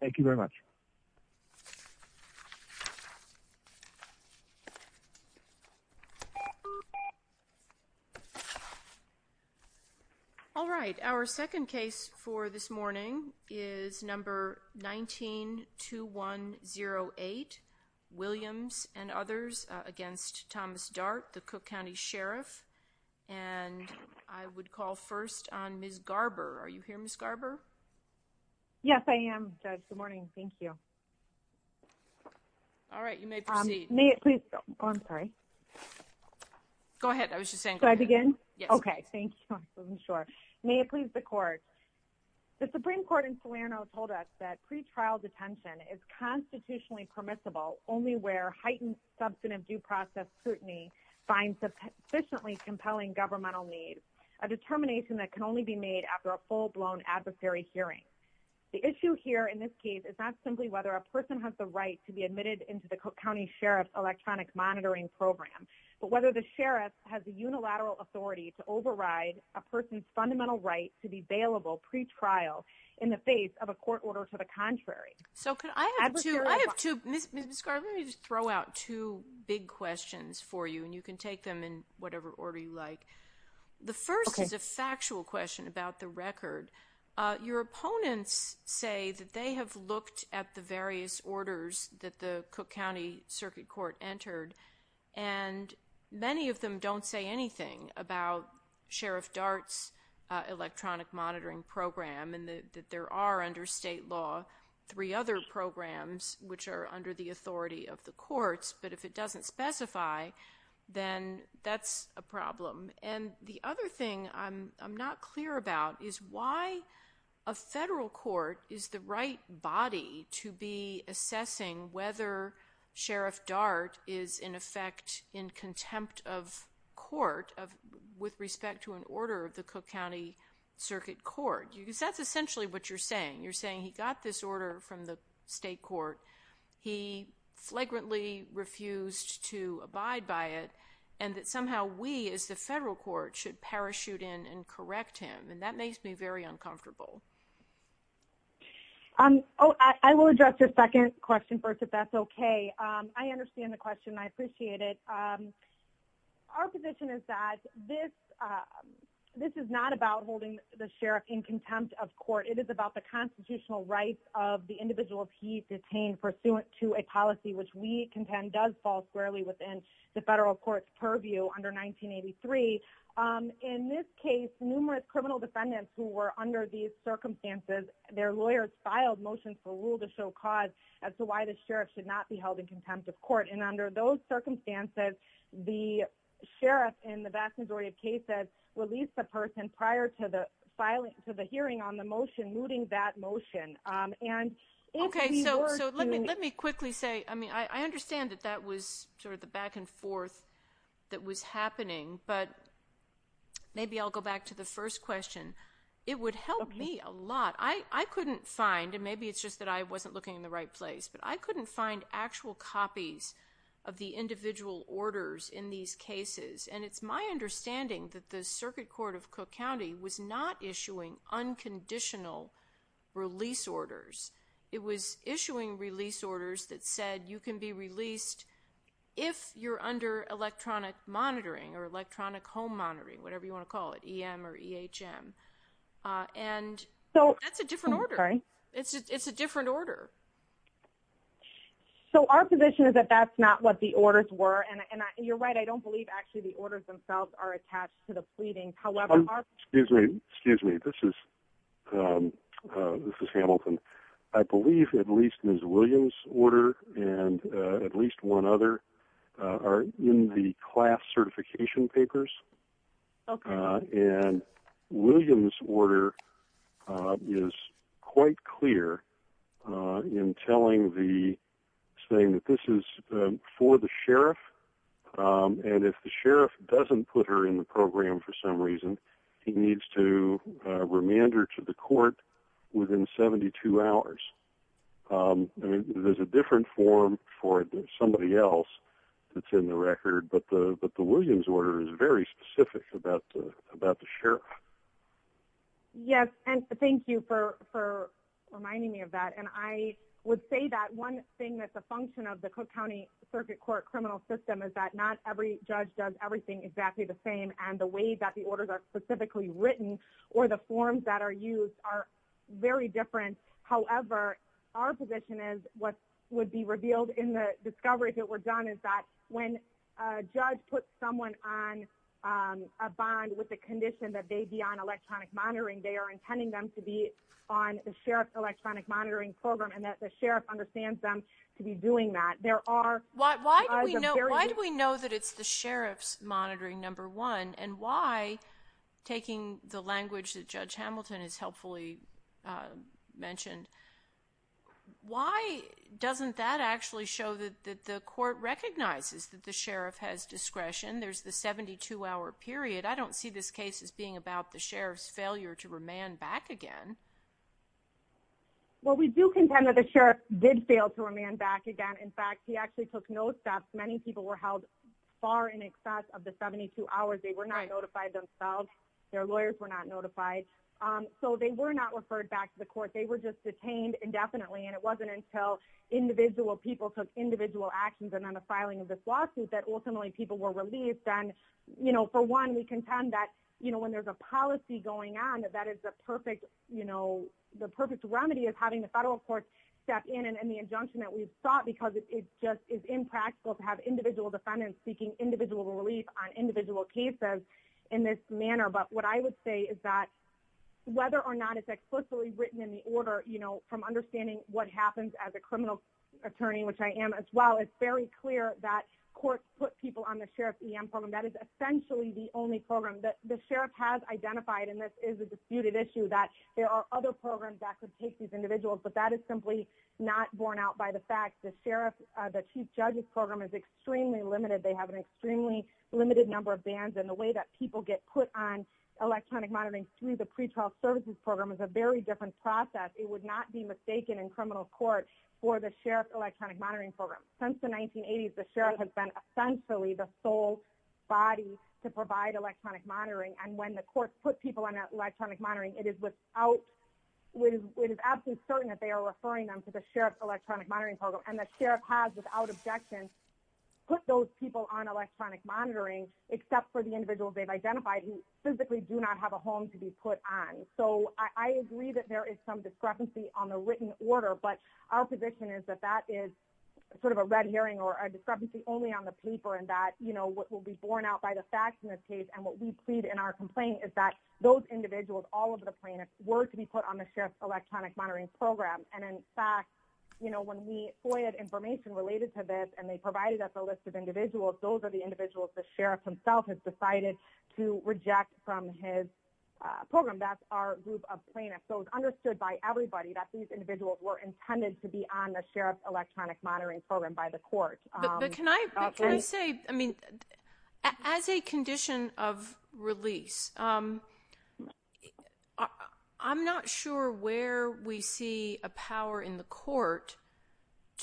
Thank you very much. Alright, our second case for this morning is number 192108 Williams and others against Thomas Dart, the Cook County Sheriff, and I would call first on Ms. Garber. Are you here, Ms. Garber? Yes, I am, Judge. Good morning. Thank you. Alright, you may proceed. May it please, oh, I'm sorry. Go ahead. I was just saying. Do I begin? Yes. Okay. Thank you, I wasn't sure. May it please the court. The Supreme Court in Salerno told us that pretrial detention is constitutionally permissible only where heightened substantive due process scrutiny finds sufficiently compelling governmental needs, a determination that can only be made after a full-blown adversary hearing. The issue here in this case is not simply whether a person has the right to be admitted into the Cook County Sheriff's electronic monitoring program, but whether the Sheriff has the unilateral authority to override a person's fundamental right to be bailable pretrial in the face of a court order to the contrary. So could I have two, I have two, Ms. Garber, let me just throw out two big questions for you and you can take them in whatever order you like. The first is a factual question about the record. Your opponents say that they have looked at the various orders that the Cook County Circuit Court entered and many of them don't say anything about Sheriff Dart's electronic monitoring program and that there are under state law three other programs which are under the authority of the courts, but if it doesn't specify then that's a problem. And the other thing I'm not clear about is why a federal court is the right body to be assessing whether Sheriff Dart is in effect in contempt of court of with respect to an order of the Cook County Circuit Court. That's essentially what you're saying. You're saying he got this order from the state court. He flagrantly refused to abide by it and that somehow we as the federal court should parachute in and correct him and that makes me very uncomfortable. Oh, I will address your second question first if that's okay. I understand the question. I appreciate it. Our position is that this is not about holding the sheriff in contempt of court. It is about the constitutional rights of the individuals he detained pursuant to a policy which we contend does fall squarely within the federal courts purview under 1983 in this case numerous criminal defendants who were under these circumstances their lawyers filed motion for rule to show cause as to why the sheriff should not be held in contempt of court and under those circumstances the sheriff in the vast majority of cases released the person prior to the filing to the hearing on the motion moving that motion and okay. So let me let me quickly say I mean, I understand that that was sort of the back and forth that was happening, but maybe I'll go back to the first question. It would help me a lot. I couldn't find and maybe it's just that I wasn't looking in the right place, but I couldn't find actual copies of the individual orders in these cases and it's my understanding that the Circuit Court of Cook County was not issuing unconditional release orders. It was issuing release orders that said you can be released if you're under electronic monitoring or electronic home monitoring, whatever you want to call it em or ehm and so that's a different order. It's a different order. So our position is that that's not what the orders were and you're right. I don't believe actually the orders themselves are attached to the pleading. However, excuse me, excuse me. This is this is Hamilton. I believe at least Miss Williams order and at least one other are in the class certification papers. Okay, and Williams order is quite clear in telling the saying that this is for the sheriff and if the sheriff doesn't put her in the program for some reason he needs to remand her to the court within 72 hours. I mean, there's a different form for somebody else that's in the record. But the but the Williams order is very specific about about the sheriff. Yes, and thank you for reminding me of that and I would say that one thing that's a function of the Cook County Circuit Court criminal system is that not every judge does everything exactly the same and the way that the orders are specifically written or the forms that are used are very different. However, our position is what would be revealed in the discovery if it were done is that when a judge put someone on a bond with the condition that they be on electronic monitoring they are intending them to be on the sheriff electronic monitoring program and that the sheriff understands them to be doing that. There are why do we know why do we know that it's the sheriff's monitoring number one and why taking the language that judge Hamilton is helpfully mentioned. Why doesn't that actually show that that the court recognizes that the sheriff has discretion. There's the 72 hour period. I don't see this case as being about the sheriff's failure to remand back again. Well, we do contend that the sheriff did fail to remand back again. In fact, he actually took no steps many people were held far in excess of the 72 hours. They were not notified themselves. Their lawyers were not notified. So they were not referred back to the court. They were just detained indefinitely and it wasn't until individual people took individual actions and on the filing of this lawsuit that ultimately people were released and you know, for one we contend that you know, when there's a policy going on that that is the perfect, you know, the perfect remedy of having the federal court step in and the injunction that we've thought because it's just is impractical to have individual defendants seeking individual relief on individual cases in this manner. But what I would say is that whether or not it's explicitly written in the order, you know from understanding what happens as a criminal attorney, which I am as well. It's very clear that courts put people on the sheriff's EM program that is essentially the only program that the sheriff has identified and this is a disputed issue that there are other programs that could take these individuals, but that is simply not borne out by the fact the sheriff the chief judges program is extremely limited. They have an extremely limited number of bands and the way that people get put on electronic monitoring through the pretrial services program is a very different process. It would not be mistaken in criminal court for the sheriff's electronic monitoring program since the 1980s the sheriff has been essentially the sole body to provide electronic monitoring and when the court put people on that electronic monitoring it is without which is absolutely certain that they are referring them to the sheriff's electronic monitoring program and the sheriff has without objection put those people on electronic monitoring except for the individuals. They've identified who physically do not have a home to be put on so I agree that there is some discrepancy on the written order, but our position is that that is sort of a red herring or a discrepancy only on the paper and that you know, what will be borne out by the facts in this case and what we plead in our complaint is that those individuals all of the plaintiffs were to be put on the sheriff's electronic monitoring program. And in fact, you know when we FOIA information related to this and they provided us a list of individuals. Those are the individuals the sheriff himself has decided to reject from his program. That's our group of plaintiffs. So it's understood by everybody that these individuals were intended to be on the sheriff's electronic monitoring program by the court, but can I say I mean as a condition of release? I'm not sure where we see a power in the court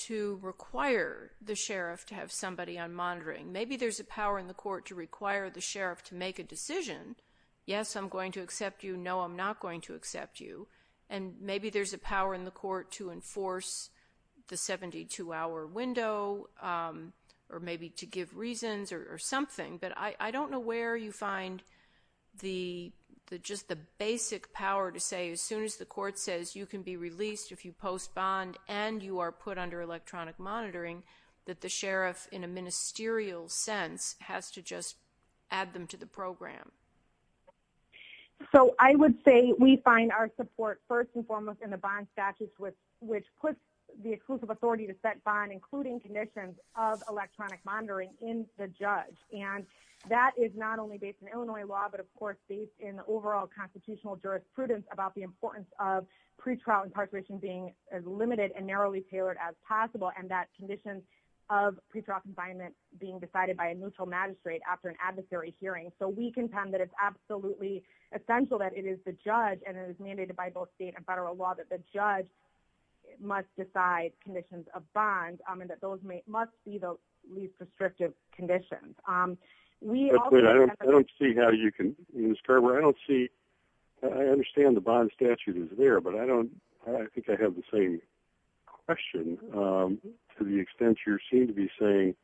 to require the sheriff to have somebody on monitoring. Maybe there's a power in the court to require the sheriff to make a decision. Yes, I'm going to accept, you know, I'm not going to accept you and maybe there's a power in the court to enforce the 72 hour window or maybe to give reasons or something, but I don't know where you find the just the basic power to say as soon as the court says you can be released if you post bond and you are put under electronic monitoring that the sheriff in a ministerial sense has to just add them to the program. So I would say we find our support first and foremost in the bond statutes with which puts the exclusive authority to set bond including conditions of electronic monitoring in the judge and that is not only based in Illinois law, but of course based in the overall constitutional jurisprudence about the importance of pretrial incarceration being as limited and narrowly tailored as possible and that conditions of pretrial confinement being decided by a neutral magistrate after an adversary hearing. So we contend that it's absolutely essential that it is the judge and it is mandated by both state and federal law that the judge must decide conditions of bonds and that those must be the least restrictive conditions. I don't see how you can, Ms. Carver, I don't see, I understand the bond statute is there, but I don't I think I have the same question to the extent you seem to be saying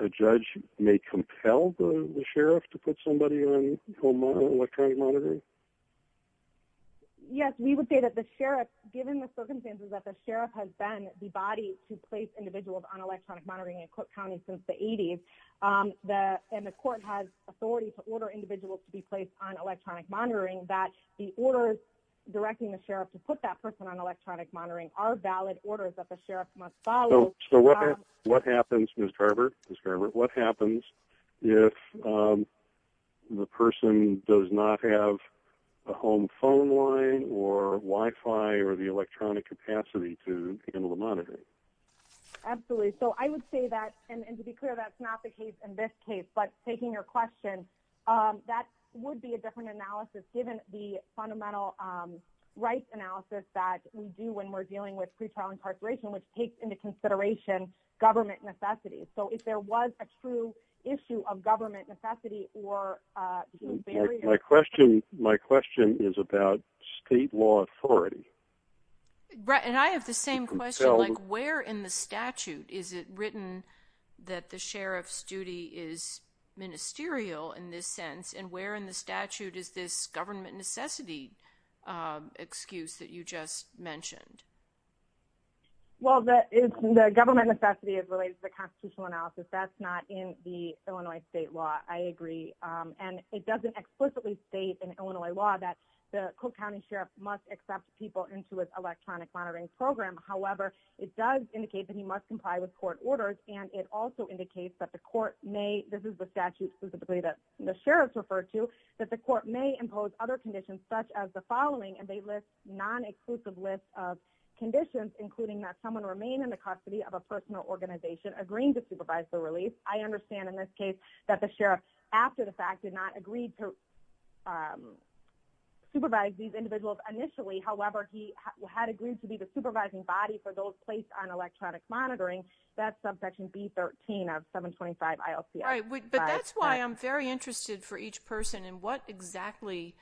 a judge may compel the sheriff to put somebody on electronic monitoring? Yes, we would say that the sheriff given the circumstances that the sheriff has been the body to place individuals on electronic monitoring in Cook County since the 80s and the court has authority to order individuals to be placed on electronic monitoring that the orders directing the sheriff to put that person on electronic monitoring are valid orders that the sheriff must follow. So what happens, Ms. Carver, what happens if the person does not have a home phone line or Wi-Fi or the electronic capacity to handle the monitoring? Absolutely. So I would say that and to be clear, that's not the case in this case, but taking your question, that would be a different analysis given the fundamental rights analysis that we do when we're dealing with pretrial incarceration, which takes into consideration government necessities. So if there was a true issue of government necessity or my question, my question is about state law authority. And I have the same question, like where in the statute is it written that the sheriff's duty is ministerial in this sense and where in the statute is this government necessity excuse that you just mentioned? Well, the government necessity is related to the constitutional analysis. That's not in the Illinois state law. And it doesn't explicitly state in Illinois law that the Cook monitoring program. However, it does indicate that he must comply with court orders and it also indicates that the court may, this is the statute specifically that the sheriff's referred to, that the court may impose other conditions such as the following and they list non-exclusive list of conditions, including that someone remain in the custody of a personal organization agreeing to supervise the release. I understand in this case that the sheriff after the fact did not agree to supervise these individuals initially. However, he had agreed to be the supervising body for those placed on electronic monitoring that subsection B 13 of 725 ILC. All right, but that's why I'm very interested for each person and what exactly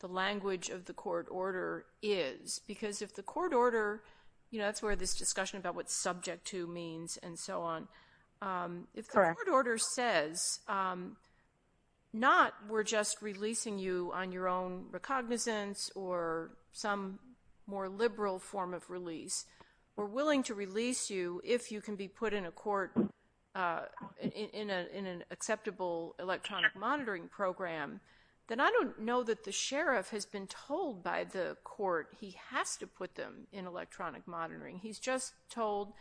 the language of the court order is because if the court order, you know, that's where this discussion about what subject to means and so on if the court order says not we're just releasing you on your own recognizance or some more liberal form of release or willing to release you if you can be put in a court in an acceptable electronic monitoring program, then I don't know that the sheriff has been told by the court. He has to put them in electronic monitoring. He's just told,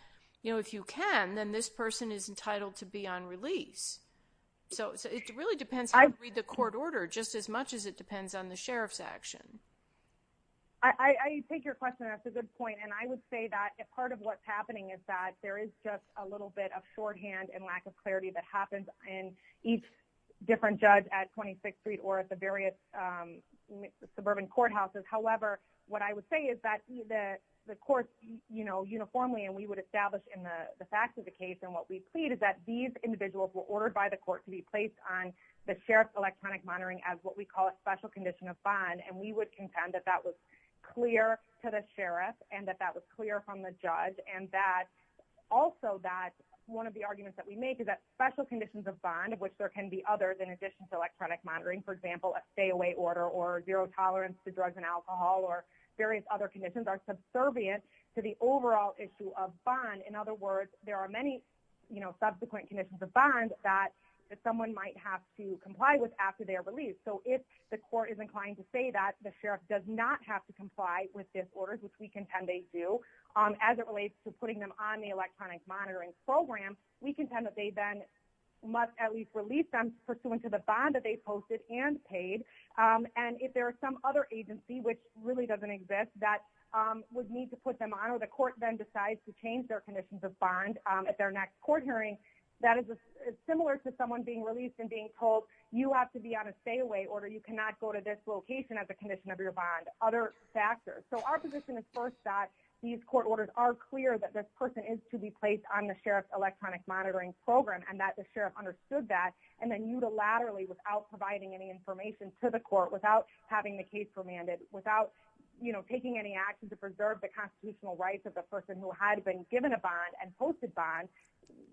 you know, if you can then this person is entitled to be on release. So it really depends. I read the court order just as much as it depends on the I take your question. That's a good point. And I would say that if part of what's happening is that there is just a little bit of shorthand and lack of clarity that happens and each different judge at 26th Street or at the various suburban courthouses. However, what I would say is that that the court, you know, uniformly and we would establish in the facts of the case and what we plead is that these individuals were ordered by the court to be placed on the sheriff's electronic monitoring as what we call a special condition of bond and we would intend that that was clear to the sheriff and that that was clear from the judge and that also that one of the arguments that we make is that special conditions of bond of which there can be others in addition to electronic monitoring. For example, a stay away order or zero tolerance to drugs and alcohol or various other conditions are subservient to the overall issue of bond. In other words, there are many, you know, subsequent conditions of bond that someone might have to comply with after their release. So if the court is inclined to say that the sheriff does not have to comply with this orders, which we contend they do as it relates to putting them on the electronic monitoring program. We contend that they then must at least release them pursuant to the bond that they posted and paid and if there are some other agency which really doesn't exist that would need to put them on or the court then decides to change their conditions of bond at their next court hearing that is similar to someone being released and being told you have to be on a stay away order. You cannot go to this location at the condition of your bond other factors. So our position is first that these court orders are clear that this person is to be placed on the sheriff's electronic monitoring program and that the sheriff understood that and then you to laterally without providing any information to the court without having the case remanded without, you know, taking any action to preserve the constitutional rights of the person who had been given a bond and posted bond.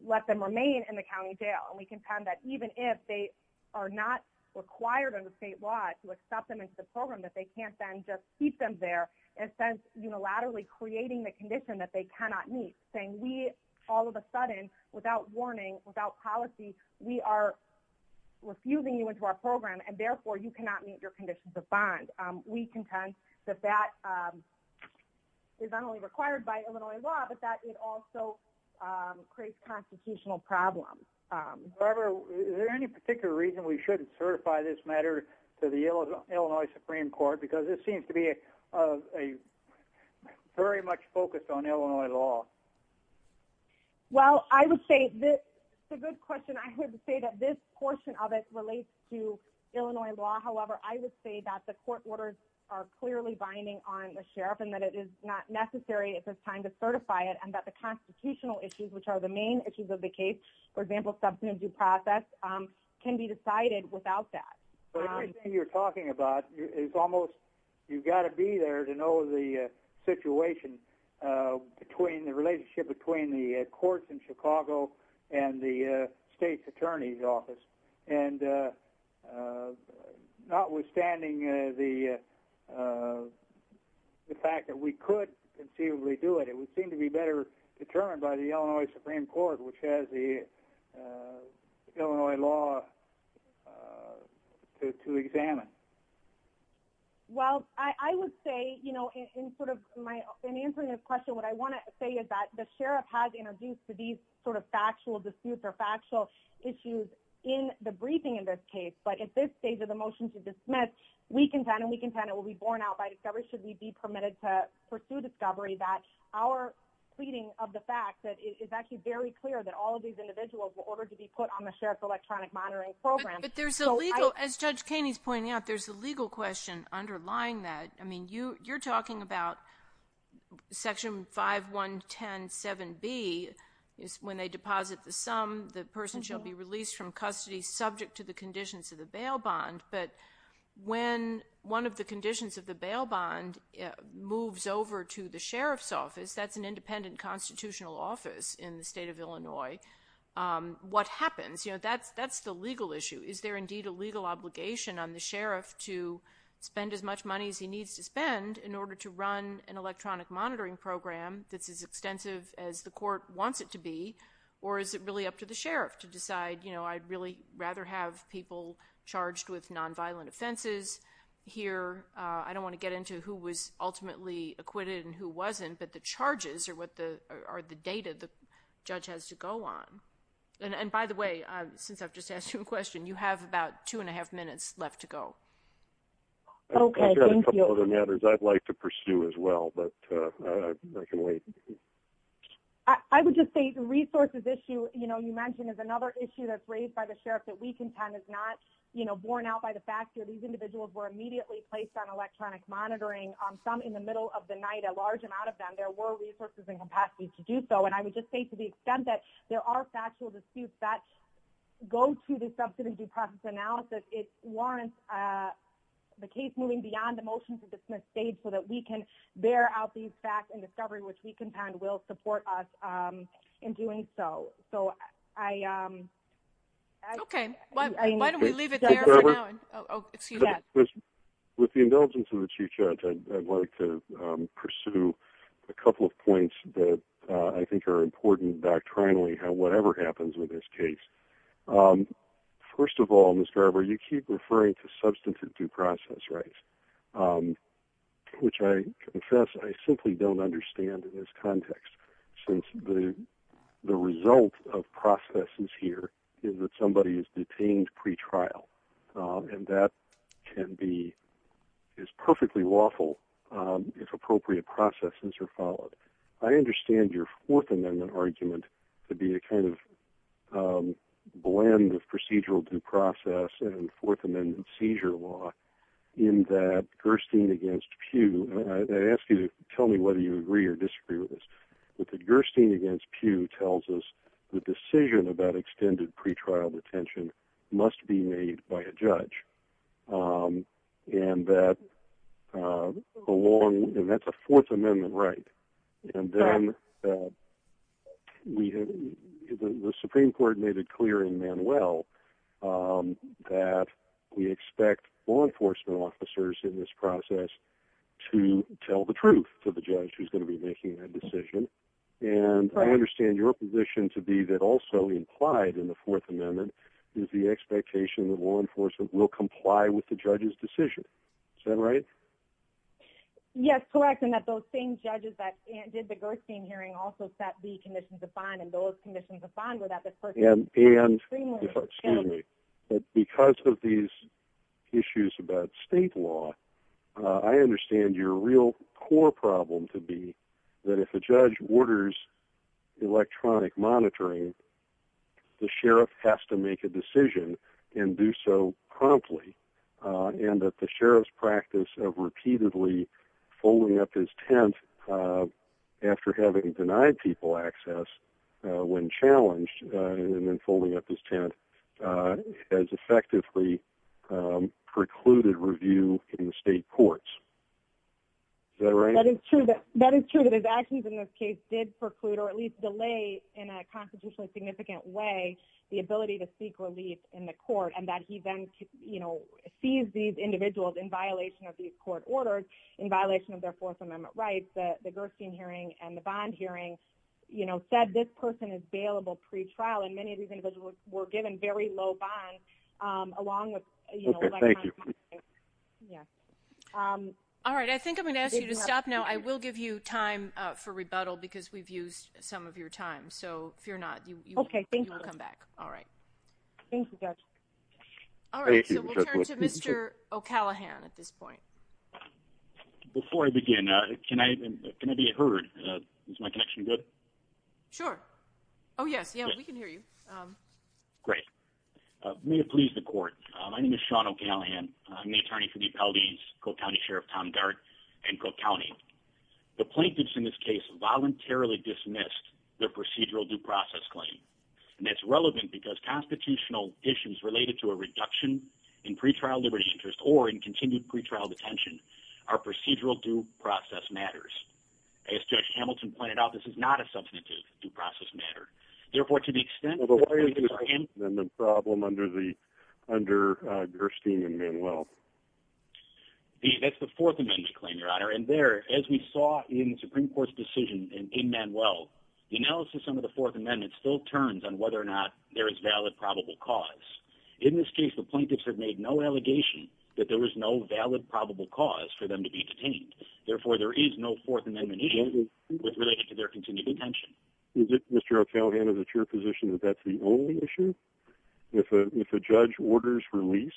Let them remain in the county jail and we contend that even if they are not required under state law to accept them into the program that they can't then just keep them there and since unilaterally creating the condition that they cannot meet saying we all of a sudden without warning without policy. We are refusing you into our program and therefore you cannot meet your conditions of bond. We contend that that is not only required by Illinois law, but that it also creates constitutional problems. However, is there any particular reason we shouldn't certify this matter to the Illinois Supreme Court because it seems to be a very much focused on Illinois law. Well, I would say this is a good question. I would say that this portion of it relates to Illinois law. However, I would say that the court orders are clearly binding on the sheriff and that it is not necessary if it's time to and that the constitutional issues which are the main issues of the case, for example, substantive process can be decided without that. But everything you're talking about is almost you've got to be there to know the situation between the relationship between the courts in Chicago and the state's attorney's office and notwithstanding the fact that we could conceivably do it. It would seem to be better determined by the Illinois Supreme Court, which has the Illinois law to examine. Well, I would say, you know, in sort of my in answering this question, what I want to say is that the sheriff has introduced to these sort of factual disputes or factual issues in the briefing in this case, but at this stage of the motion to dismiss, we contend and we contend it will be borne out by should we be permitted to pursue discovery that our pleading of the fact that it is actually very clear that all of these individuals were ordered to be put on the sheriff's electronic monitoring program. But there's a legal as judge caney's pointing out. There's a legal question underlying that. I mean you you're talking about section 5 1 10 7 B is when they deposit the sum the person shall be released from custody subject to the conditions of the bail bond. But when one of the conditions of the bail bond moves over to the sheriff's office, that's an independent constitutional office in the state of Illinois. What happens? You know, that's that's the legal issue. Is there indeed a legal obligation on the sheriff to spend as much money as he needs to spend in order to run an electronic monitoring program? That's as extensive as the court wants it to be or is it really up to the sheriff to decide, you know, I'd really rather have people charged with nonviolent offenses here. I don't want to get into who was ultimately acquitted and who wasn't but the charges are what the are the data the judge has to go on and by the way, since I've just asked you a question you have about two and a half minutes left to go. Okay. Thank you. I'd like to pursue as well, but I can wait. I would just say the resources issue. You know, you mentioned is another issue that's raised by the sheriff that we contend is not, you know, borne out by the fact that these individuals were immediately placed on electronic monitoring on some in the middle of the night a large amount of them there were resources and capacity to do so and I would just say to the extent that there are factual disputes that go to the substantive due process analysis. It warrants the case moving beyond the motion to dismiss stage so that we can bear out these facts and discovery which we contend will support us in doing so. So I am okay. With the indulgence of the chief judge. I'd like to pursue a couple of points that I think are important doctrinally how whatever happens with this case. First of all, Miss Garber you keep referring to substantive due process rights, which I confess. I simply don't understand in this context since the the result of processes here is that somebody is detained pretrial and that can be is perfectly lawful if appropriate processes are followed. I understand your fourth amendment argument to be a kind of blend of procedural due process and fourth amendment seizure law in that Gerstein against Pew and I ask you to tell me whether you agree or disagree with this with the Gerstein against Pew tells us the decision about extended pretrial detention must be made by a judge and that along and that's a fourth amendment, right? And then we have the Supreme Court made it clear in Manuel that we expect law enforcement officers in this process to tell the truth to the judge who's going to be making that decision and I understand your position to be that also implied in the fourth amendment is the expectation that law enforcement will comply with the judge's decision. Is that right? Yes, correct. And that those same judges that did the Gerstein hearing also set the conditions of fine and those conditions of fine without the first and and excuse me, but because of these issues about state law, I understand your real core problem to be that if the judge orders electronic monitoring, the sheriff has to make a decision and do so promptly and that the sheriff's practice of repeatedly folding up his tent after having denied people access when challenged and then folding up his tent as effectively precluded review in the state courts. Is that right? That is true. That is true that his actions in this case did preclude or at least delay in a constitutionally significant way the ability to seek relief in the court and that he then, you know, sees these individuals in violation of these court orders in violation of their fourth amendment rights that the Gerstein hearing and the bond hearing, you know said this person is bailable pretrial and many of these individuals were given very low bond along with, you know, thank you. Yeah. Um, all right. I think I'm going to ask you to stop now. I will give you time for rebuttal because we've used some of your time. So if you're not you okay. Thank you. I'll come back. All right. Thank you guys. All right, so we'll turn to Mr. O'Callaghan at this point before I begin. Can I can I be heard? Is my connection good? Oh, yes. Yeah, we can hear you. Great. May it please the court. My name is Sean O'Callaghan. I'm the attorney for the appellees, Coe County Sheriff Tom Gart and Coe County. The plaintiffs in this case voluntarily dismissed their procedural due process claim and that's relevant because constitutional issues related to a reduction in pretrial liberty interest or in continued pretrial detention are procedural due process matters. As Judge Hamilton pointed out. This is not a substantive due process matter. Therefore, to the extent of a problem under the under Gerstein and Manuel. That's the Fourth Amendment claim your honor and there as we saw in Supreme Court's decision in Manuel the analysis under the Fourth Amendment still turns on whether or not there is valid probable cause in this case. The plaintiffs have made no allegation that there was no valid probable cause for them to be detained. Therefore, there is no Fourth Amendment issue with related to their continued attention. Is it Mr. O'Callaghan is it your position that that's the only issue if a judge orders release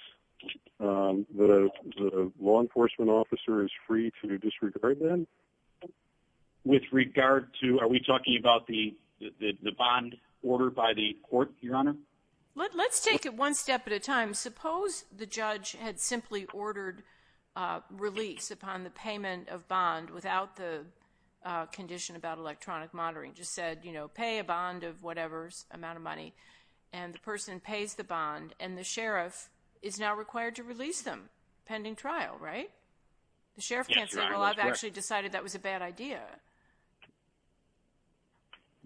the law enforcement officer is free to disregard them? With regard to are we talking about the the bond order by the court your honor? Let's take it one step at a time. Suppose the judge had simply ordered release upon the payment of bond without the condition about electronic monitoring and the person pays the bond and the sheriff is now required to release them pending trial, right? The sheriff can't say. Well, I've actually decided that was a bad idea.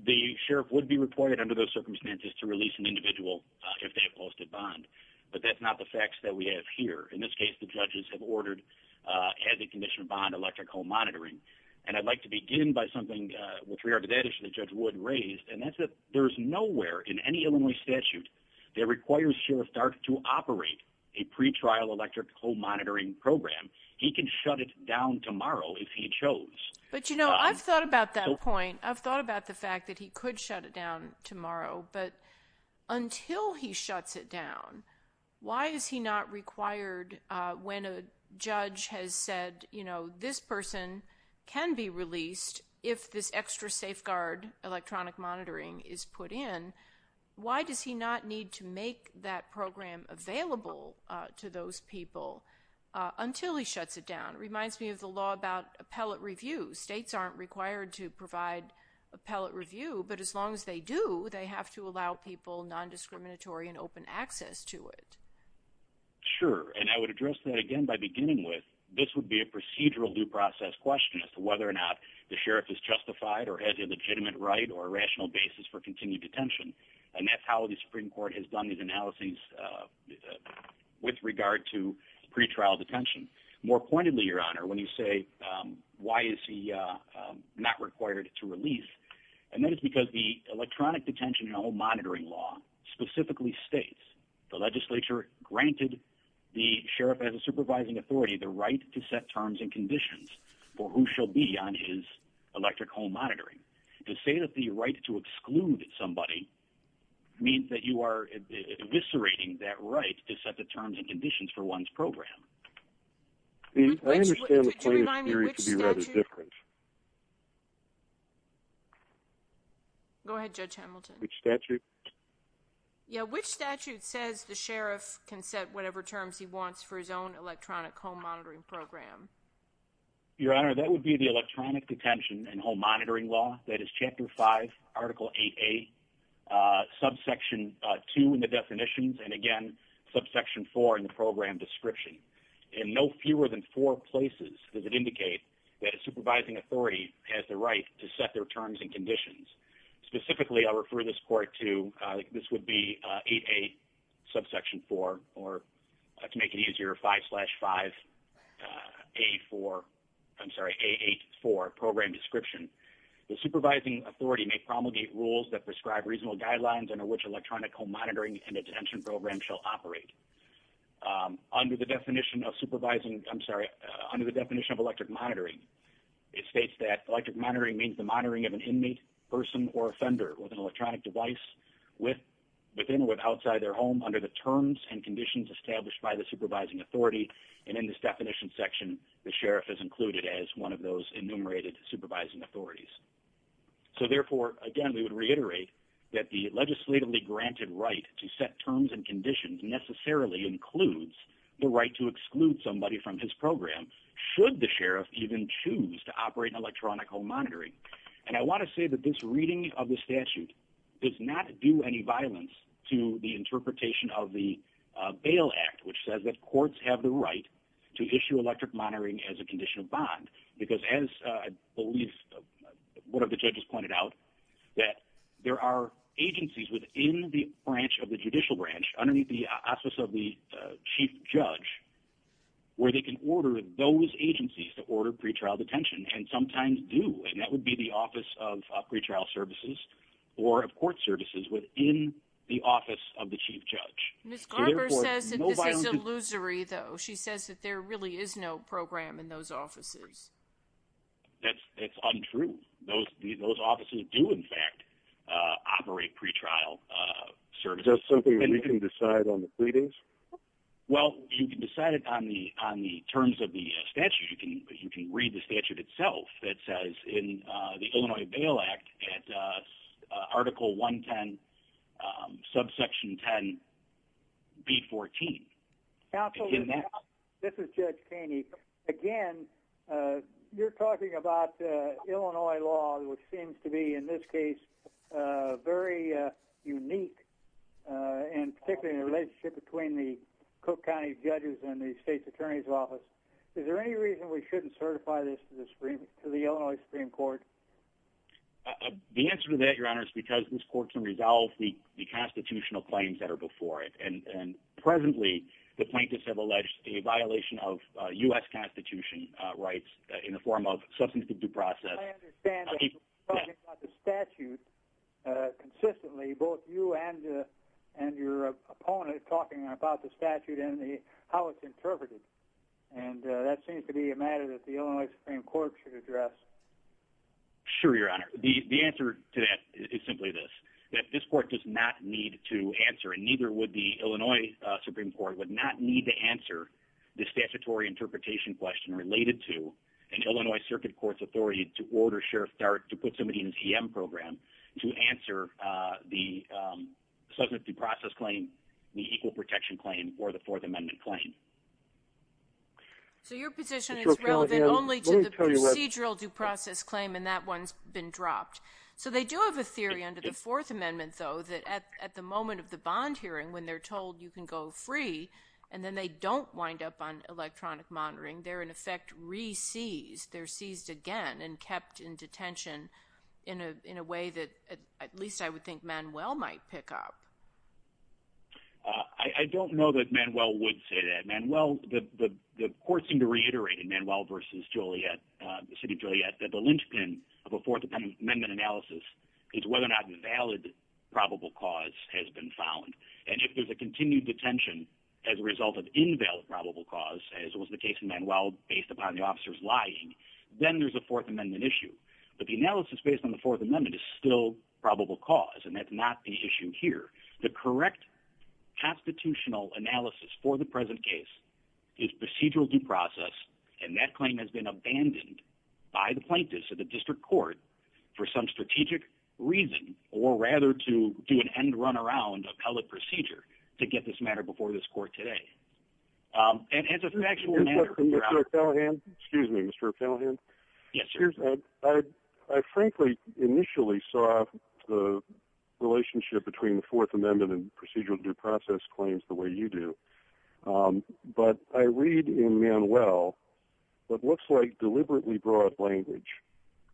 The sheriff would be reported under those circumstances to release an individual if they have posted bond, but that's not the facts that we have here. In this case. The judges have ordered as a condition of bond electric home monitoring and I'd like to begin by something with regard to that issue that judge would raised and that's there's nowhere in any Illinois statute that requires sheriff dark to operate a pretrial electric home monitoring program. He can shut it down tomorrow if he chose, but you know, I've thought about that point. I've thought about the fact that he could shut it down tomorrow, but until he shuts it down, why is he not required when a judge has said, you know, this person can be released if this extra safeguard electronic monitoring is put in. Why does he not need to make that program available to those people until he shuts it down reminds me of the law about appellate review states aren't required to provide appellate review, but as long as they do they have to allow people non-discriminatory and open access to it. Sure, and I would address that again by beginning with this would be a procedural due process question as to whether or not the sheriff is justified or has a legitimate right or a rational basis for continued detention and that's how the Supreme Court has done these analyses with regard to pretrial detention more pointedly your honor when you say why is he not required to release and that is because the electronic detention and home monitoring law specifically states the legislature granted the sheriff as a supervising authority the right to set terms and conditions for who shall be on his electric home monitoring to say that the right to exclude somebody means that you are eviscerating that right to set the terms and conditions for one's program. Go ahead judge Hamilton statute. Yeah, which statute says the sheriff can set whatever terms he wants for his own electronic home monitoring program. Your honor that would be the electronic detention and home monitoring law. That is chapter 5 article 8a subsection 2 in the definitions and again subsection 4 in the program description in no fewer than four places does it indicate that a supervising authority has the right to set their terms and conditions specifically I refer this court to this would be 8a subsection 4 or to make it easier 5 slash 5 a 4. I'm sorry a 8 for program description the supervising authority may promulgate rules that prescribe reasonable guidelines under which electronic home monitoring and attention program shall operate under the definition of supervising. I'm sorry under the definition of electric monitoring. It states that electric monitoring means the monitoring of an inmate person or offender with an electronic device with within with outside their home under the terms and conditions established by the supervising authority and in this definition section the sheriff is included as one of those enumerated supervising authorities. So therefore again, we would reiterate that the legislatively granted right to set terms and conditions necessarily includes the right to exclude somebody from his program should the sheriff even choose to operate an electronic home monitoring and I want to say that this reading of the statute does not do any bail Act which says that courts have the right to issue electric monitoring as a condition of bond because as I believe one of the judges pointed out that there are agencies within the branch of the judicial branch underneath the office of the chief judge where they can order those agencies to order pretrial detention and sometimes do and that would be the office of pretrial services or of court services within the illusory though. She says that there really is no program in those offices. That's that's untrue. Those those offices do in fact operate pretrial service or something and you can decide on the pleadings. Well, you can decide it on the on the terms of the statute. You can you can read the statute itself that says in the Illinois Bail Act at article 110 subsection 10 B 14. Counsel in that. This is Judge Kanye again. You're talking about Illinois law which seems to be in this case very unique and particularly in a relationship between the Cook County judges and the state's attorney's office. Is there any reason we shouldn't certify this to the screen to the Illinois Supreme Court? The answer to that your honor is because this court can resolve the constitutional claims that are before it and and presently the plaintiffs have alleged a violation of US Constitution rights in the form of substance to due process. I understand the statute consistently both you and and your opponent talking about the statute and the how it's interpreted and that seems to be a matter that the Illinois Supreme Court should address. Sure, your honor. The answer to that is simply this that this court does not need to answer and neither would the Illinois Supreme Court would not need to answer the statutory interpretation question related to an Illinois Circuit Court's authority to order Sheriff dark to put somebody in his EM program to answer the subject due process claim the equal protection claim or the Fourth Amendment claim. So your position is relevant only to the procedural due process claim and that one's been dropped. So they do have a theory under the Fourth Amendment though that at the moment of the bond hearing when they're told you can go free and then they don't wind up on electronic monitoring there in effect Reese's they're seized again and kept in detention in a in a way that at least I would think Manuel might pick up. I don't know that Manuel would say that Manuel the court seem to reiterate in Manuel versus Juliet City Juliet that the linchpin of a Fourth Amendment analysis is whether or not valid probable cause has been found and if there's a continued detention as a result of invalid probable cause as was the case in Manuel based upon the officers lying then there's a Fourth Amendment issue, but the analysis based on the Fourth Amendment is still probable cause and that's not the issue here. The correct constitutional analysis for the present case is procedural due process and that claim has been abandoned by the plaintiffs of the district court for some strategic reason or rather to do an end run around appellate procedure to get this matter before this court today. And it's a factual. Excuse me, Mr. Callahan. Yes, sir. I frankly initially saw the relationship between the Fourth Amendment and procedural due process claims the way you do but I read in Manuel what looks like deliberately broad language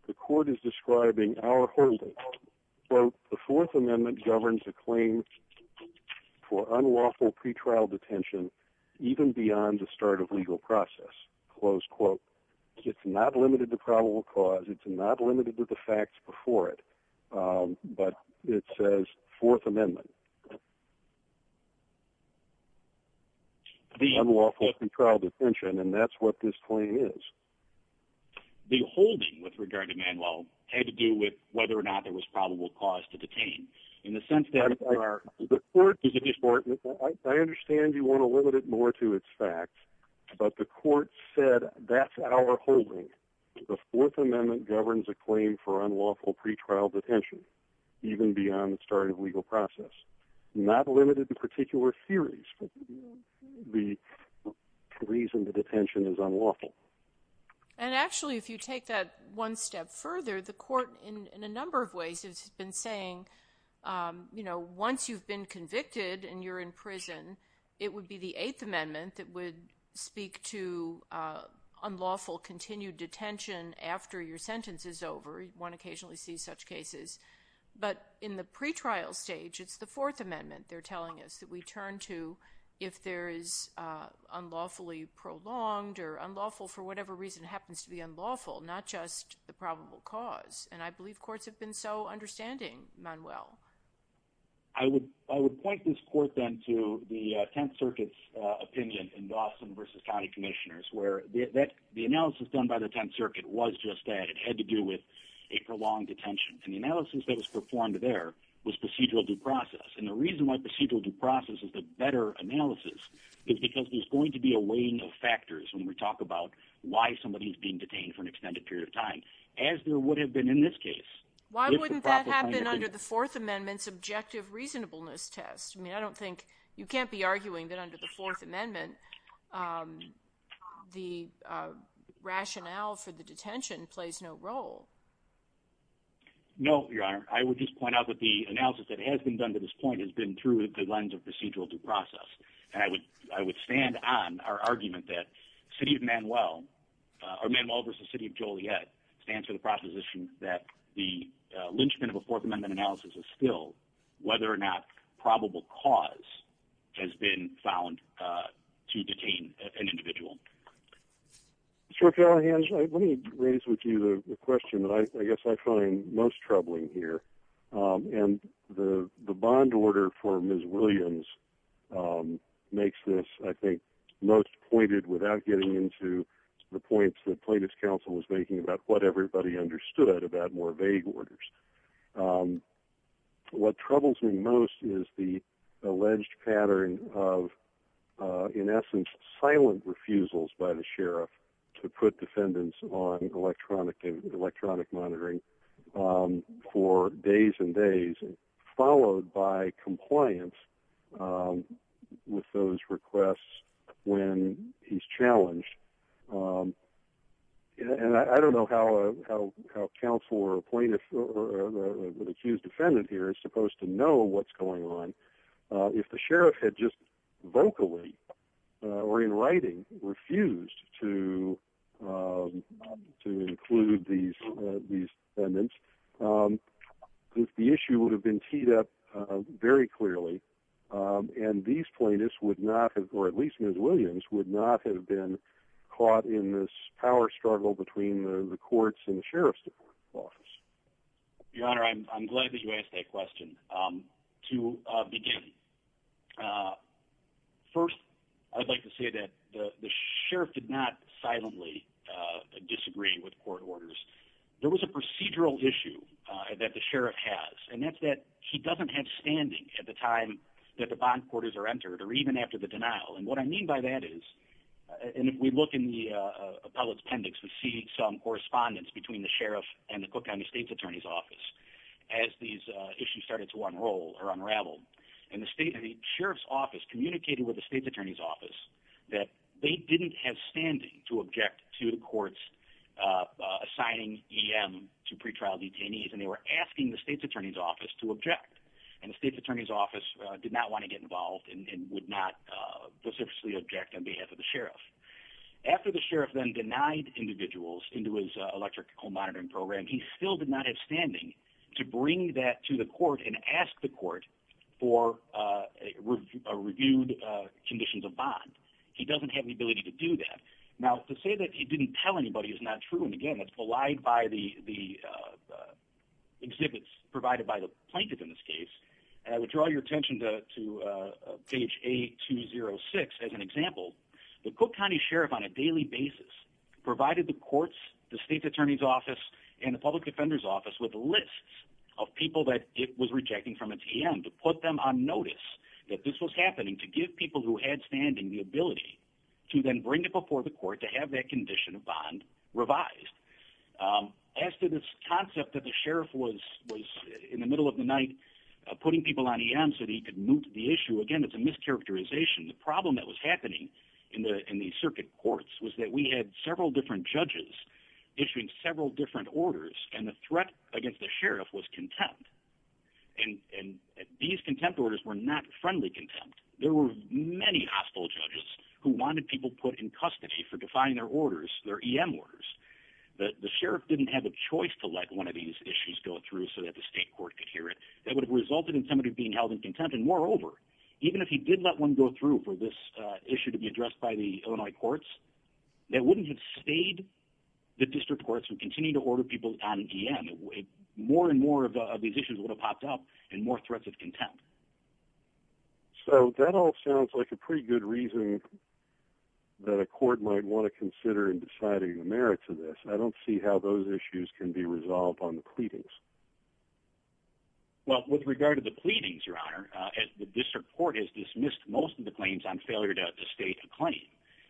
the court is describing our holding quote the Fourth Amendment governs a claim for unlawful pretrial detention even beyond the start of legal process close quote. It's not limited to probable cause. It's not limited to the facts before it but it says Fourth Amendment. The unlawful pretrial detention and that's what this claim is. The holding with regard to Manuel had to do with whether or not there was probable cause to detain in the sense that are the court is important. I understand you want to limit it more to its facts, but the court said that's our holding the Fourth Amendment governs a claim for unlawful pretrial detention even beyond the start of legal process not limited to particular theories to the reason the detention is unlawful and actually if you take that one step further the court in a number of ways has been saying, you know, once you've been convicted and you're in prison, it would be the Eighth Amendment that would speak to unlawful continued detention after your sentence is over one occasionally see such cases, but in the pretrial stage, it's the Fourth Amendment. They're telling us that we turn to if there is unlawfully prolonged or unlawful for whatever reason happens to be unlawful not just the probable cause and I believe courts have been so understanding Manuel. I would I would point this court then to the Tenth Circuit's opinion in Boston versus County Commissioners where that the analysis done by the Tenth Circuit was just that it had to do with a prolonged detention and the analysis that was performed there was procedural due process. And the reason why procedural due process is the better analysis is because there's going to be a weighing of factors when we talk about why somebody is being detained for an extended period of time as there would have been in this case. Why wouldn't that happen under the Fourth Amendment subjective reasonableness test? I mean, I don't think you can't be arguing that under the Fourth Amendment the rationale for the detention plays no role. No, your honor. I would just point out that the analysis that has been done to this point has been through the lens of procedural due process and I would I would stand on our argument that city of Manuel or Manuel versus the city of Joliet stands for the proposition that the lynchpin of a Fourth Amendment analysis is still whether or not probable cause has been found to detain an individual. Sir Callahan, let me raise with you the question that I guess I find most troubling here and the bond order for Ms. Williams makes this I think most pointed without getting into the points that plaintiff's counsel was making about what everybody understood about more vague orders. What troubles me most is the alleged pattern of in essence silent refusals by the sheriff to put defendants on electronic electronic monitoring for days and days and followed by compliance with those requests when he's challenged. And I don't know how counsel or plaintiff or the accused defendant here is supposed to know what's going on. If the sheriff had just vocally or in writing refused to to include these these defendants. The issue would have been teed up very clearly and these plaintiffs would not have or at least Ms. Williams would not have been caught in this power struggle between the courts and the sheriff's office. Your Honor. I'm glad that you asked that question to begin. First I'd like to say that the sheriff did not silently disagree with court orders. There was a procedural issue that the sheriff has and that's that he doesn't have standing at the time that the bond quarters are entered or even after the denial and what I mean by that is and if we look in the appellate appendix we see some correspondence between the sheriff and the Cook County State's Attorney's Office as these issues started to unroll or unravel and the state of the sheriff's office communicated with the state's attorney's office that they didn't have standing to object to the courts assigning EM to pretrial detainees and they were asking the state's attorney's office to object and the state's attorney's office did not want to get involved and would not specifically object on behalf of the sheriff after the sheriff then denied individuals into his electrical monitoring program. He still did not have standing to bring that to the court and ask the court for a reviewed conditions of bond. He doesn't have any ability to do that. Now to say that he didn't tell anybody is not true. And again, it's polite by the exhibits provided by the plaintiff in this case and I would draw your attention to page 8206 as an example the Cook County Sheriff on a daily basis provided the courts the state's attorney's office and the public defender's rejecting from a TM to put them on notice that this was happening to give people who had standing the ability to then bring it before the court to have that condition of bond revised as to this concept that the sheriff was was in the middle of the night putting people on EM so that he could move to the issue again. It's a mischaracterization. The problem that was happening in the in the circuit courts was that we had several different judges issuing several different orders and the threat against the sheriff was content. And and these contempt orders were not friendly contempt. There were many hostile judges who wanted people put in custody for defying their orders their EM orders that the sheriff didn't have a choice to let one of these issues go through so that the state court could hear it that would have resulted in somebody being held in contempt and moreover, even if he did let one go through for this issue to be addressed by the Illinois courts that wouldn't have stayed the district courts would continue to order people on EM more and more of these issues would have popped up and more threats of contempt. So that all sounds like a pretty good reason that a court might want to consider in deciding the merits of this. I don't see how those issues can be resolved on the pleadings. Well with regard to the pleadings your honor as the district court has dismissed most of the claims on failure to state a claim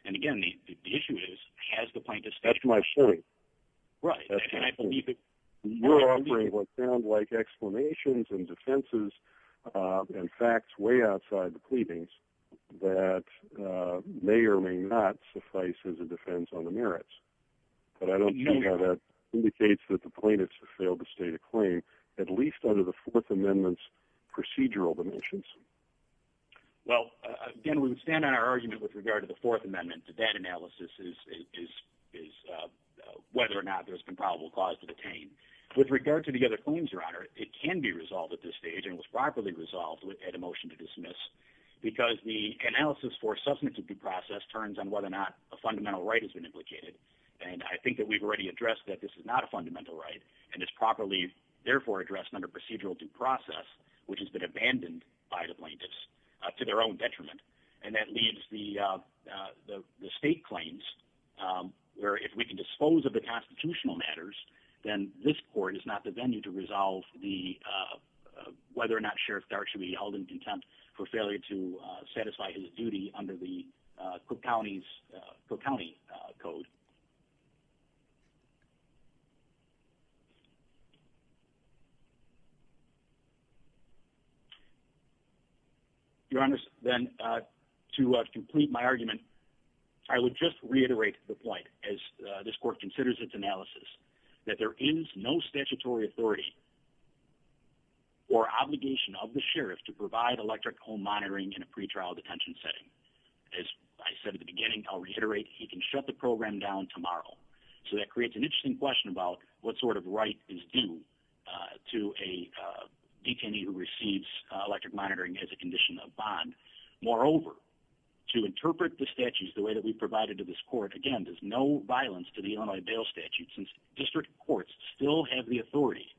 and again the issue is has the plaintiffs that's my point, right? And I believe that we're offering what sounds like explanations and defenses and facts way outside the pleadings that may or may not suffice as a defense on the merits, but I don't know how that indicates that the plaintiffs have failed to state a claim at least under the Fourth Amendment's procedural dimensions. Well, again, we would stand on our argument with regard to the Fourth Amendment to that analysis is is is whether or not there's been probable cause to detain with regard to the other claims your honor. It can be resolved at this stage and was properly resolved with had a motion to dismiss because the analysis for substantive due process turns on whether or not a fundamental right has been implicated and I think that we've already addressed that this is not a fundamental right and it's properly therefore addressed under procedural due process, which has been abandoned by the plaintiffs to their own detriment and that leaves the the state claims where if we can dispose of the constitutional matters, then this court is not the venue to resolve the whether or not Sheriff dark should be held in contempt for failure to satisfy his duty under the Cook County's Cook County code. Your Honor's then to complete my argument. I would just reiterate the point as this court considers its analysis that there is no statutory authority. Or obligation of the sheriff to provide electric home monitoring in a pretrial detention setting as I said at the beginning. I'll reiterate. He can shut the program down tomorrow. So that creates an interesting question about what sort of right is due to a detainee who receives electric monitoring as a condition of bond. Moreover to interpret the statutes the way that we provided to this court again does no violence to the Illinois bail statute since district courts still have the authority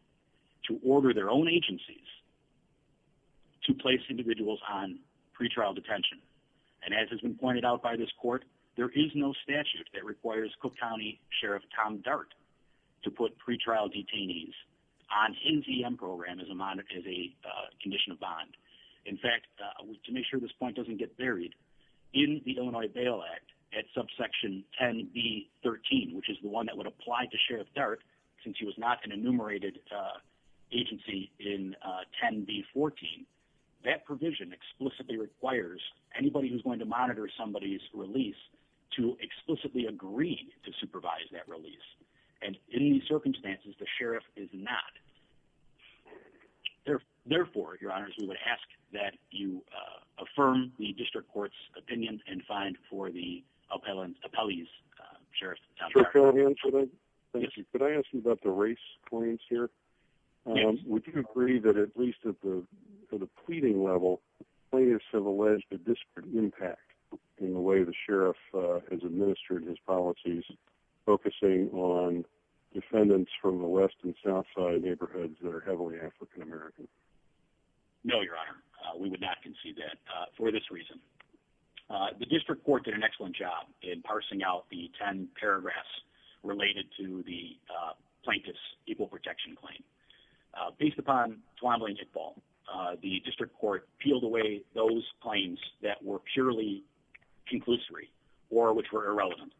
to order their own agencies. To place individuals on pretrial detention and as has been pointed out by this court, there is no statute that requires Cook County Sheriff Tom dart to put pretrial detainees on this point doesn't get buried in the Illinois bail Act at subsection 10 B 13, which is the one that would apply to Sheriff dark since he was not an enumerated agency in 10 B 14 that provision explicitly requires anybody who's going to monitor somebody's release to explicitly agree to supervise that release and in these circumstances the sheriff is not Therefore, your honors, we would ask that you affirm the district courts opinion and find for the appellant appellees Sheriff. Could I ask you about the race points here? Would you agree that at least at the pleading level players have alleged a disparate impact in the way the sheriff has administered his policies focusing on defendants from the East and South side neighborhoods that are heavily African American. No, your honor. We would not concede that for this reason. The district court did an excellent job in parsing out the 10 paragraphs related to the plaintiff's equal protection claim based upon Twombly and Tickball. The district court peeled away those claims that were purely conclusory or which were irrelevant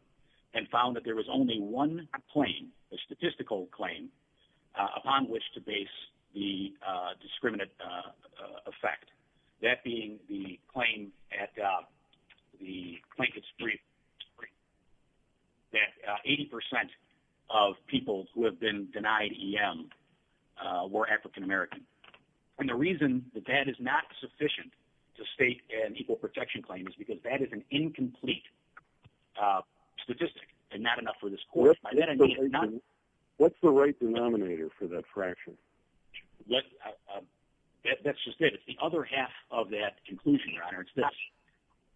and found that there was only one claim, a statistical claim, upon which to base the discriminant effect. That being the claim at the Plankett Street that 80% of people who have been denied EM were African American. And the reason that that is not sufficient to state an equal protection claim is because that is an incomplete statistic and not enough for this court. What's the right denominator for that fraction? That's just it. It's the other half of that conclusion, your honor. It's this.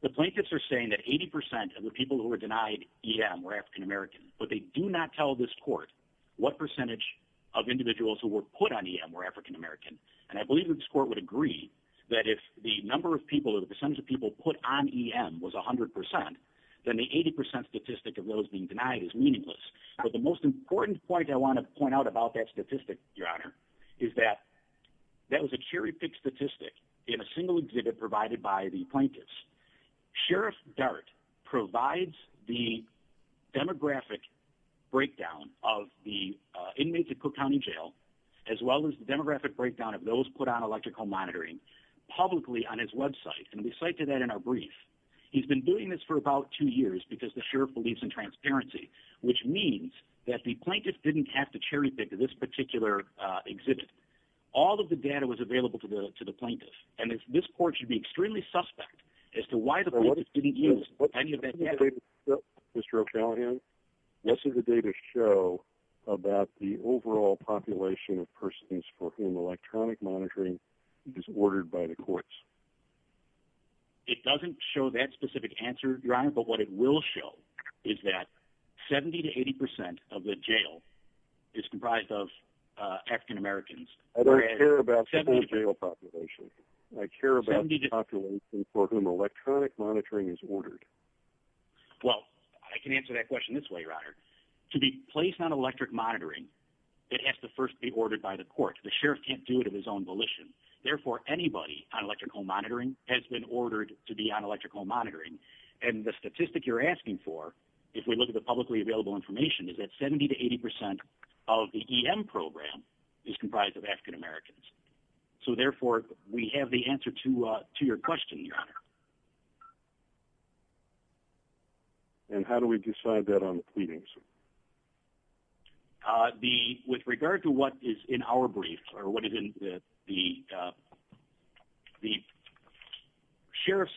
The plaintiffs are saying that 80% of the people who were denied EM were African American, but they do not tell this court what percentage of individuals who were put on EM were African American. And I believe that this court would agree that if the number of people or the percentage of people put on EM was a hundred percent, then the 80% statistic of those being denied is meaningless. But the most important point I want to point out about that statistic, your honor, is that that was a cherry-picked statistic in a single exhibit provided by the plaintiffs. Sheriff Dart provides the demographic breakdown of the inmates at Cook County Jail, as well as the demographic breakdown of those put on electrical monitoring publicly on his website. And we cite to that in our brief. He's been doing this for about two years because the sheriff believes in transparency, which means that the plaintiff didn't have to cherry-pick this particular exhibit. All of the data was available to the plaintiff. And this court should be extremely suspect as to why the plaintiff didn't use any of that data. Mr. O'Callaghan, what does the data show about the overall population of persons for whom electronic monitoring is ordered by the courts? It doesn't show that specific answer, your honor, but what it will show is that 70 to 80% of the jail is comprised of African-Americans. I don't care about the full jail population. I care about the population for whom electronic monitoring is ordered. Well, I can answer that question this way, your honor. To be placed on electric monitoring, it has to first be ordered by the court. The sheriff can't do it in his own volition. Therefore, anybody on electrical monitoring has been ordered to be on electrical monitoring. And the statistic you're asking for, if we look at the publicly available information, is that 70 to 80% of the EM program is comprised of African-Americans. So therefore, we have the answer to your question, your honor. And how do we decide that on the pleadings? With regard to what is in our brief or what is in the the sheriff's,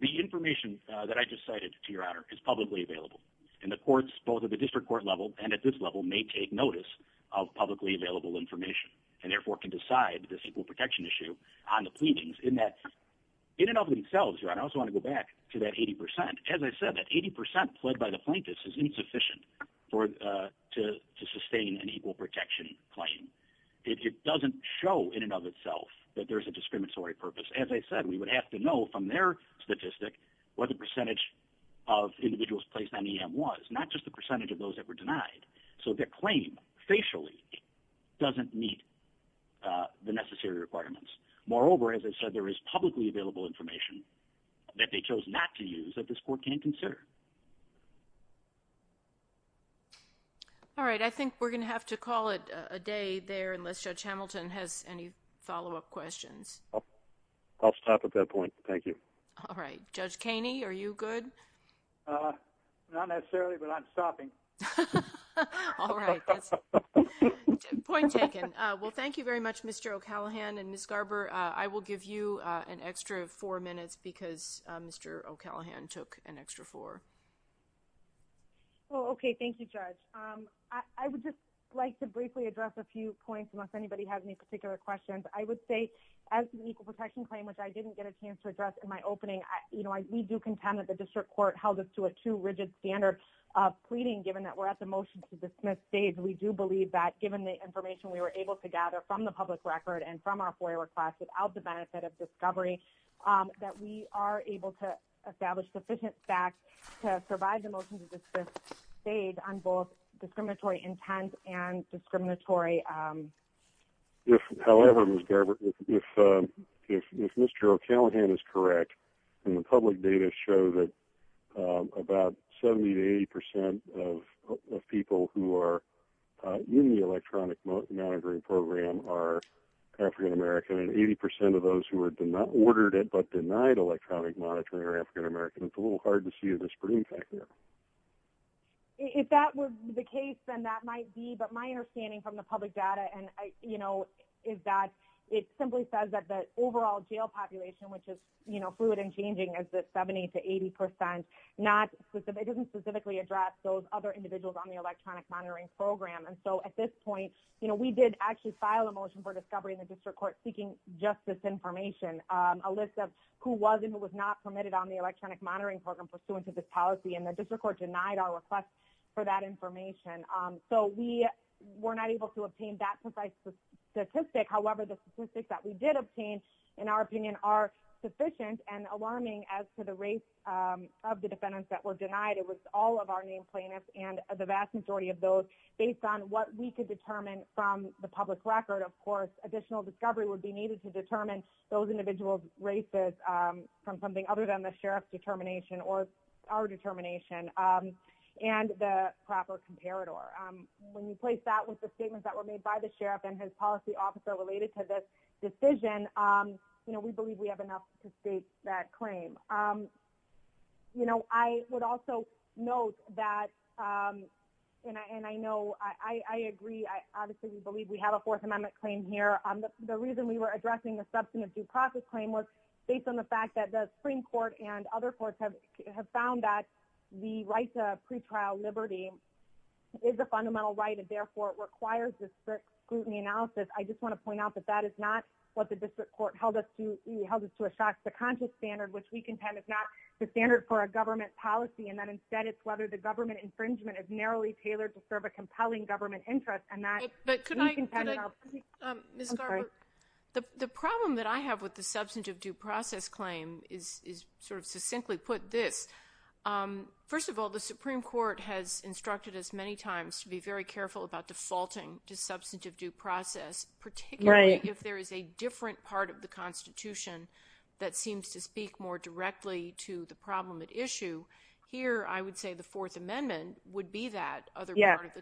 the information that I just cited, to your honor, is publicly available. And the courts, both at the district court level and at this level, may take notice of publicly available information and therefore can decide this equal protection issue on the pleadings in that, in and of themselves, your honor, I also want to go back to that 80%. As I said, that 80% pled by the plaintiffs is insufficient for to sustain an equal protection claim. It doesn't show in and of itself that there's a discriminatory purpose. As I said, we would have to know from their statistic what the percentage of individuals placed on EM was, not just the percentage of those that were denied. So their claim, facially, doesn't meet the necessary requirements. Moreover, as I said, there is publicly available information that they chose not to use that this court can consider. All right. I think we're going to have to call it a day there, unless Judge Hamilton has any follow-up questions. I'll stop at that point. Thank you. All right. Judge Caney, are you good? Not necessarily, but I'm stopping. Point taken. Well, thank you very much, Mr. O'Callaghan and Ms. Garber. I will give you an extra four minutes because Mr. O'Callaghan took an extra four. Oh, okay. Thank you, Judge. I would just like to briefly address a few points, unless anybody has any particular questions. I would say, as an equal protection claim, which I didn't get a chance to address in my opening, you know, we do contend that the District Court held us to a too rigid standard of pleading, given that we're at the motion to dismiss stage. We do believe that, given the information we were able to gather from the public record and from our FOIA request without the benefit of discovery, that we are able to establish sufficient facts to survive the motion to dismiss stage on both discriminatory intent and discriminatory. However, Ms. Garber, if Mr. O'Callaghan is correct, and the public data show that about 70 to 80% of people who are in the electronic monitoring program are African-American, and 80% of those who are ordered it but denied electronic monitoring are African-American. It's a little hard to see the spring back there. If that were the case, then that might be, but my understanding from the public data, and you know, is that it simply says that the overall jail population, which is, you know, fluid and changing as the 70 to 80%, it doesn't specifically address those other individuals on the electronic monitoring program, and so at this point, you know, we did actually file a motion for discovery in the District Court seeking justice information, a list of who was and was not permitted on the electronic monitoring program pursuant to this policy and the District Court denied our request for that information. So we were not able to obtain that precise statistic. However, the statistics that we did obtain, in our opinion, are sufficient and alarming as to the race of the defendants that were denied. It was all of our named plaintiffs and the vast majority of those based on what we could determine from the public record. Of course, additional discovery would be needed to determine those individuals' races from something other than the Sheriff's determination, or our determination, and the proper comparator. When you place that with the statements that were made by the Sheriff and his policy officer related to this decision, you know, we believe we have enough to state that claim. You know, I would also note that, and I know, I agree. I obviously believe we have a Fourth Amendment claim here. The reason we were addressing the substantive due process claim was based on the fact that the Supreme Court and other courts have found that the right to pretrial liberty is a fundamental right, and therefore, it requires this strict scrutiny analysis. I just want to point out that that is not what the District Court held us to, held us to a shock. The conscious standard, which we contend is not the standard for a government policy, and that instead, it's whether the government infringement is narrowly tailored to serve a compelling government interest, and that, we contend, in our opinion... The problem that I have with the substantive due process claim is, sort of succinctly put, this. First of all, the Supreme Court has instructed us many times to be very careful about defaulting to substantive due process, particularly if there is a different part of the Constitution that seems to speak more directly to the problem at issue. Here, I would say the Fourth Amendment would be that other part of the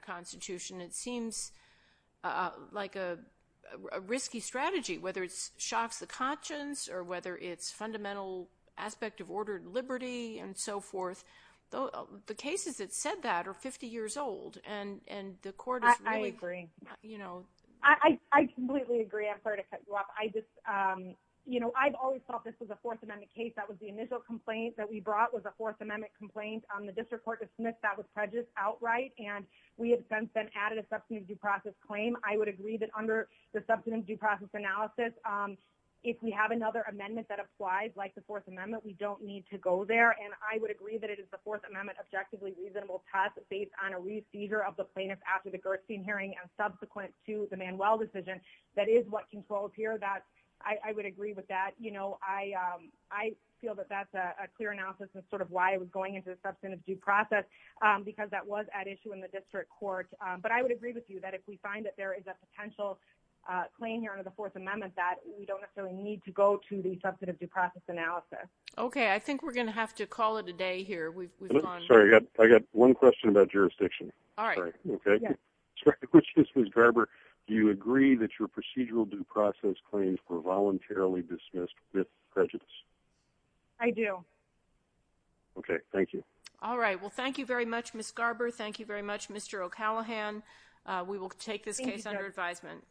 whether it shocks the conscience, or whether it's fundamental aspect of ordered liberty, and so forth. The cases that said that are 50 years old, and the Court is really... I agree. I completely agree. I'm sorry to cut you off. I just, you know, I've always thought this was a Fourth Amendment case. That was the initial complaint that we brought was a Fourth Amendment complaint on the District Court of Smith that was prejudiced outright, and we have since then added a substantive due process claim. I would agree that under the substantive due process analysis, if we have another amendment that applies like the Fourth Amendment, we don't need to go there, and I would agree that it is the Fourth Amendment objectively reasonable test based on a receiver of the plaintiff after the Gerstein hearing and subsequent to the Manuel decision. That is what controls here. I would agree with that. You know, I feel that that's a clear analysis of sort of why I was going into the substantive due process, because that was at issue in the District Court. But I would agree with you that if we find that there is a potential claim here under the Fourth Amendment that we don't necessarily need to go to the substantive due process analysis. Okay. I think we're going to have to call it a day here. We've gone... Sorry, I got one question about jurisdiction. All right. Okay. Ms. Garber, do you agree that your procedural due process claims were voluntarily dismissed with prejudice? I do. Okay, thank you. All right. Well, thank you very much, Ms. Garber. Thank you very much, Mr. O'Callaghan. We will take this case under advisement.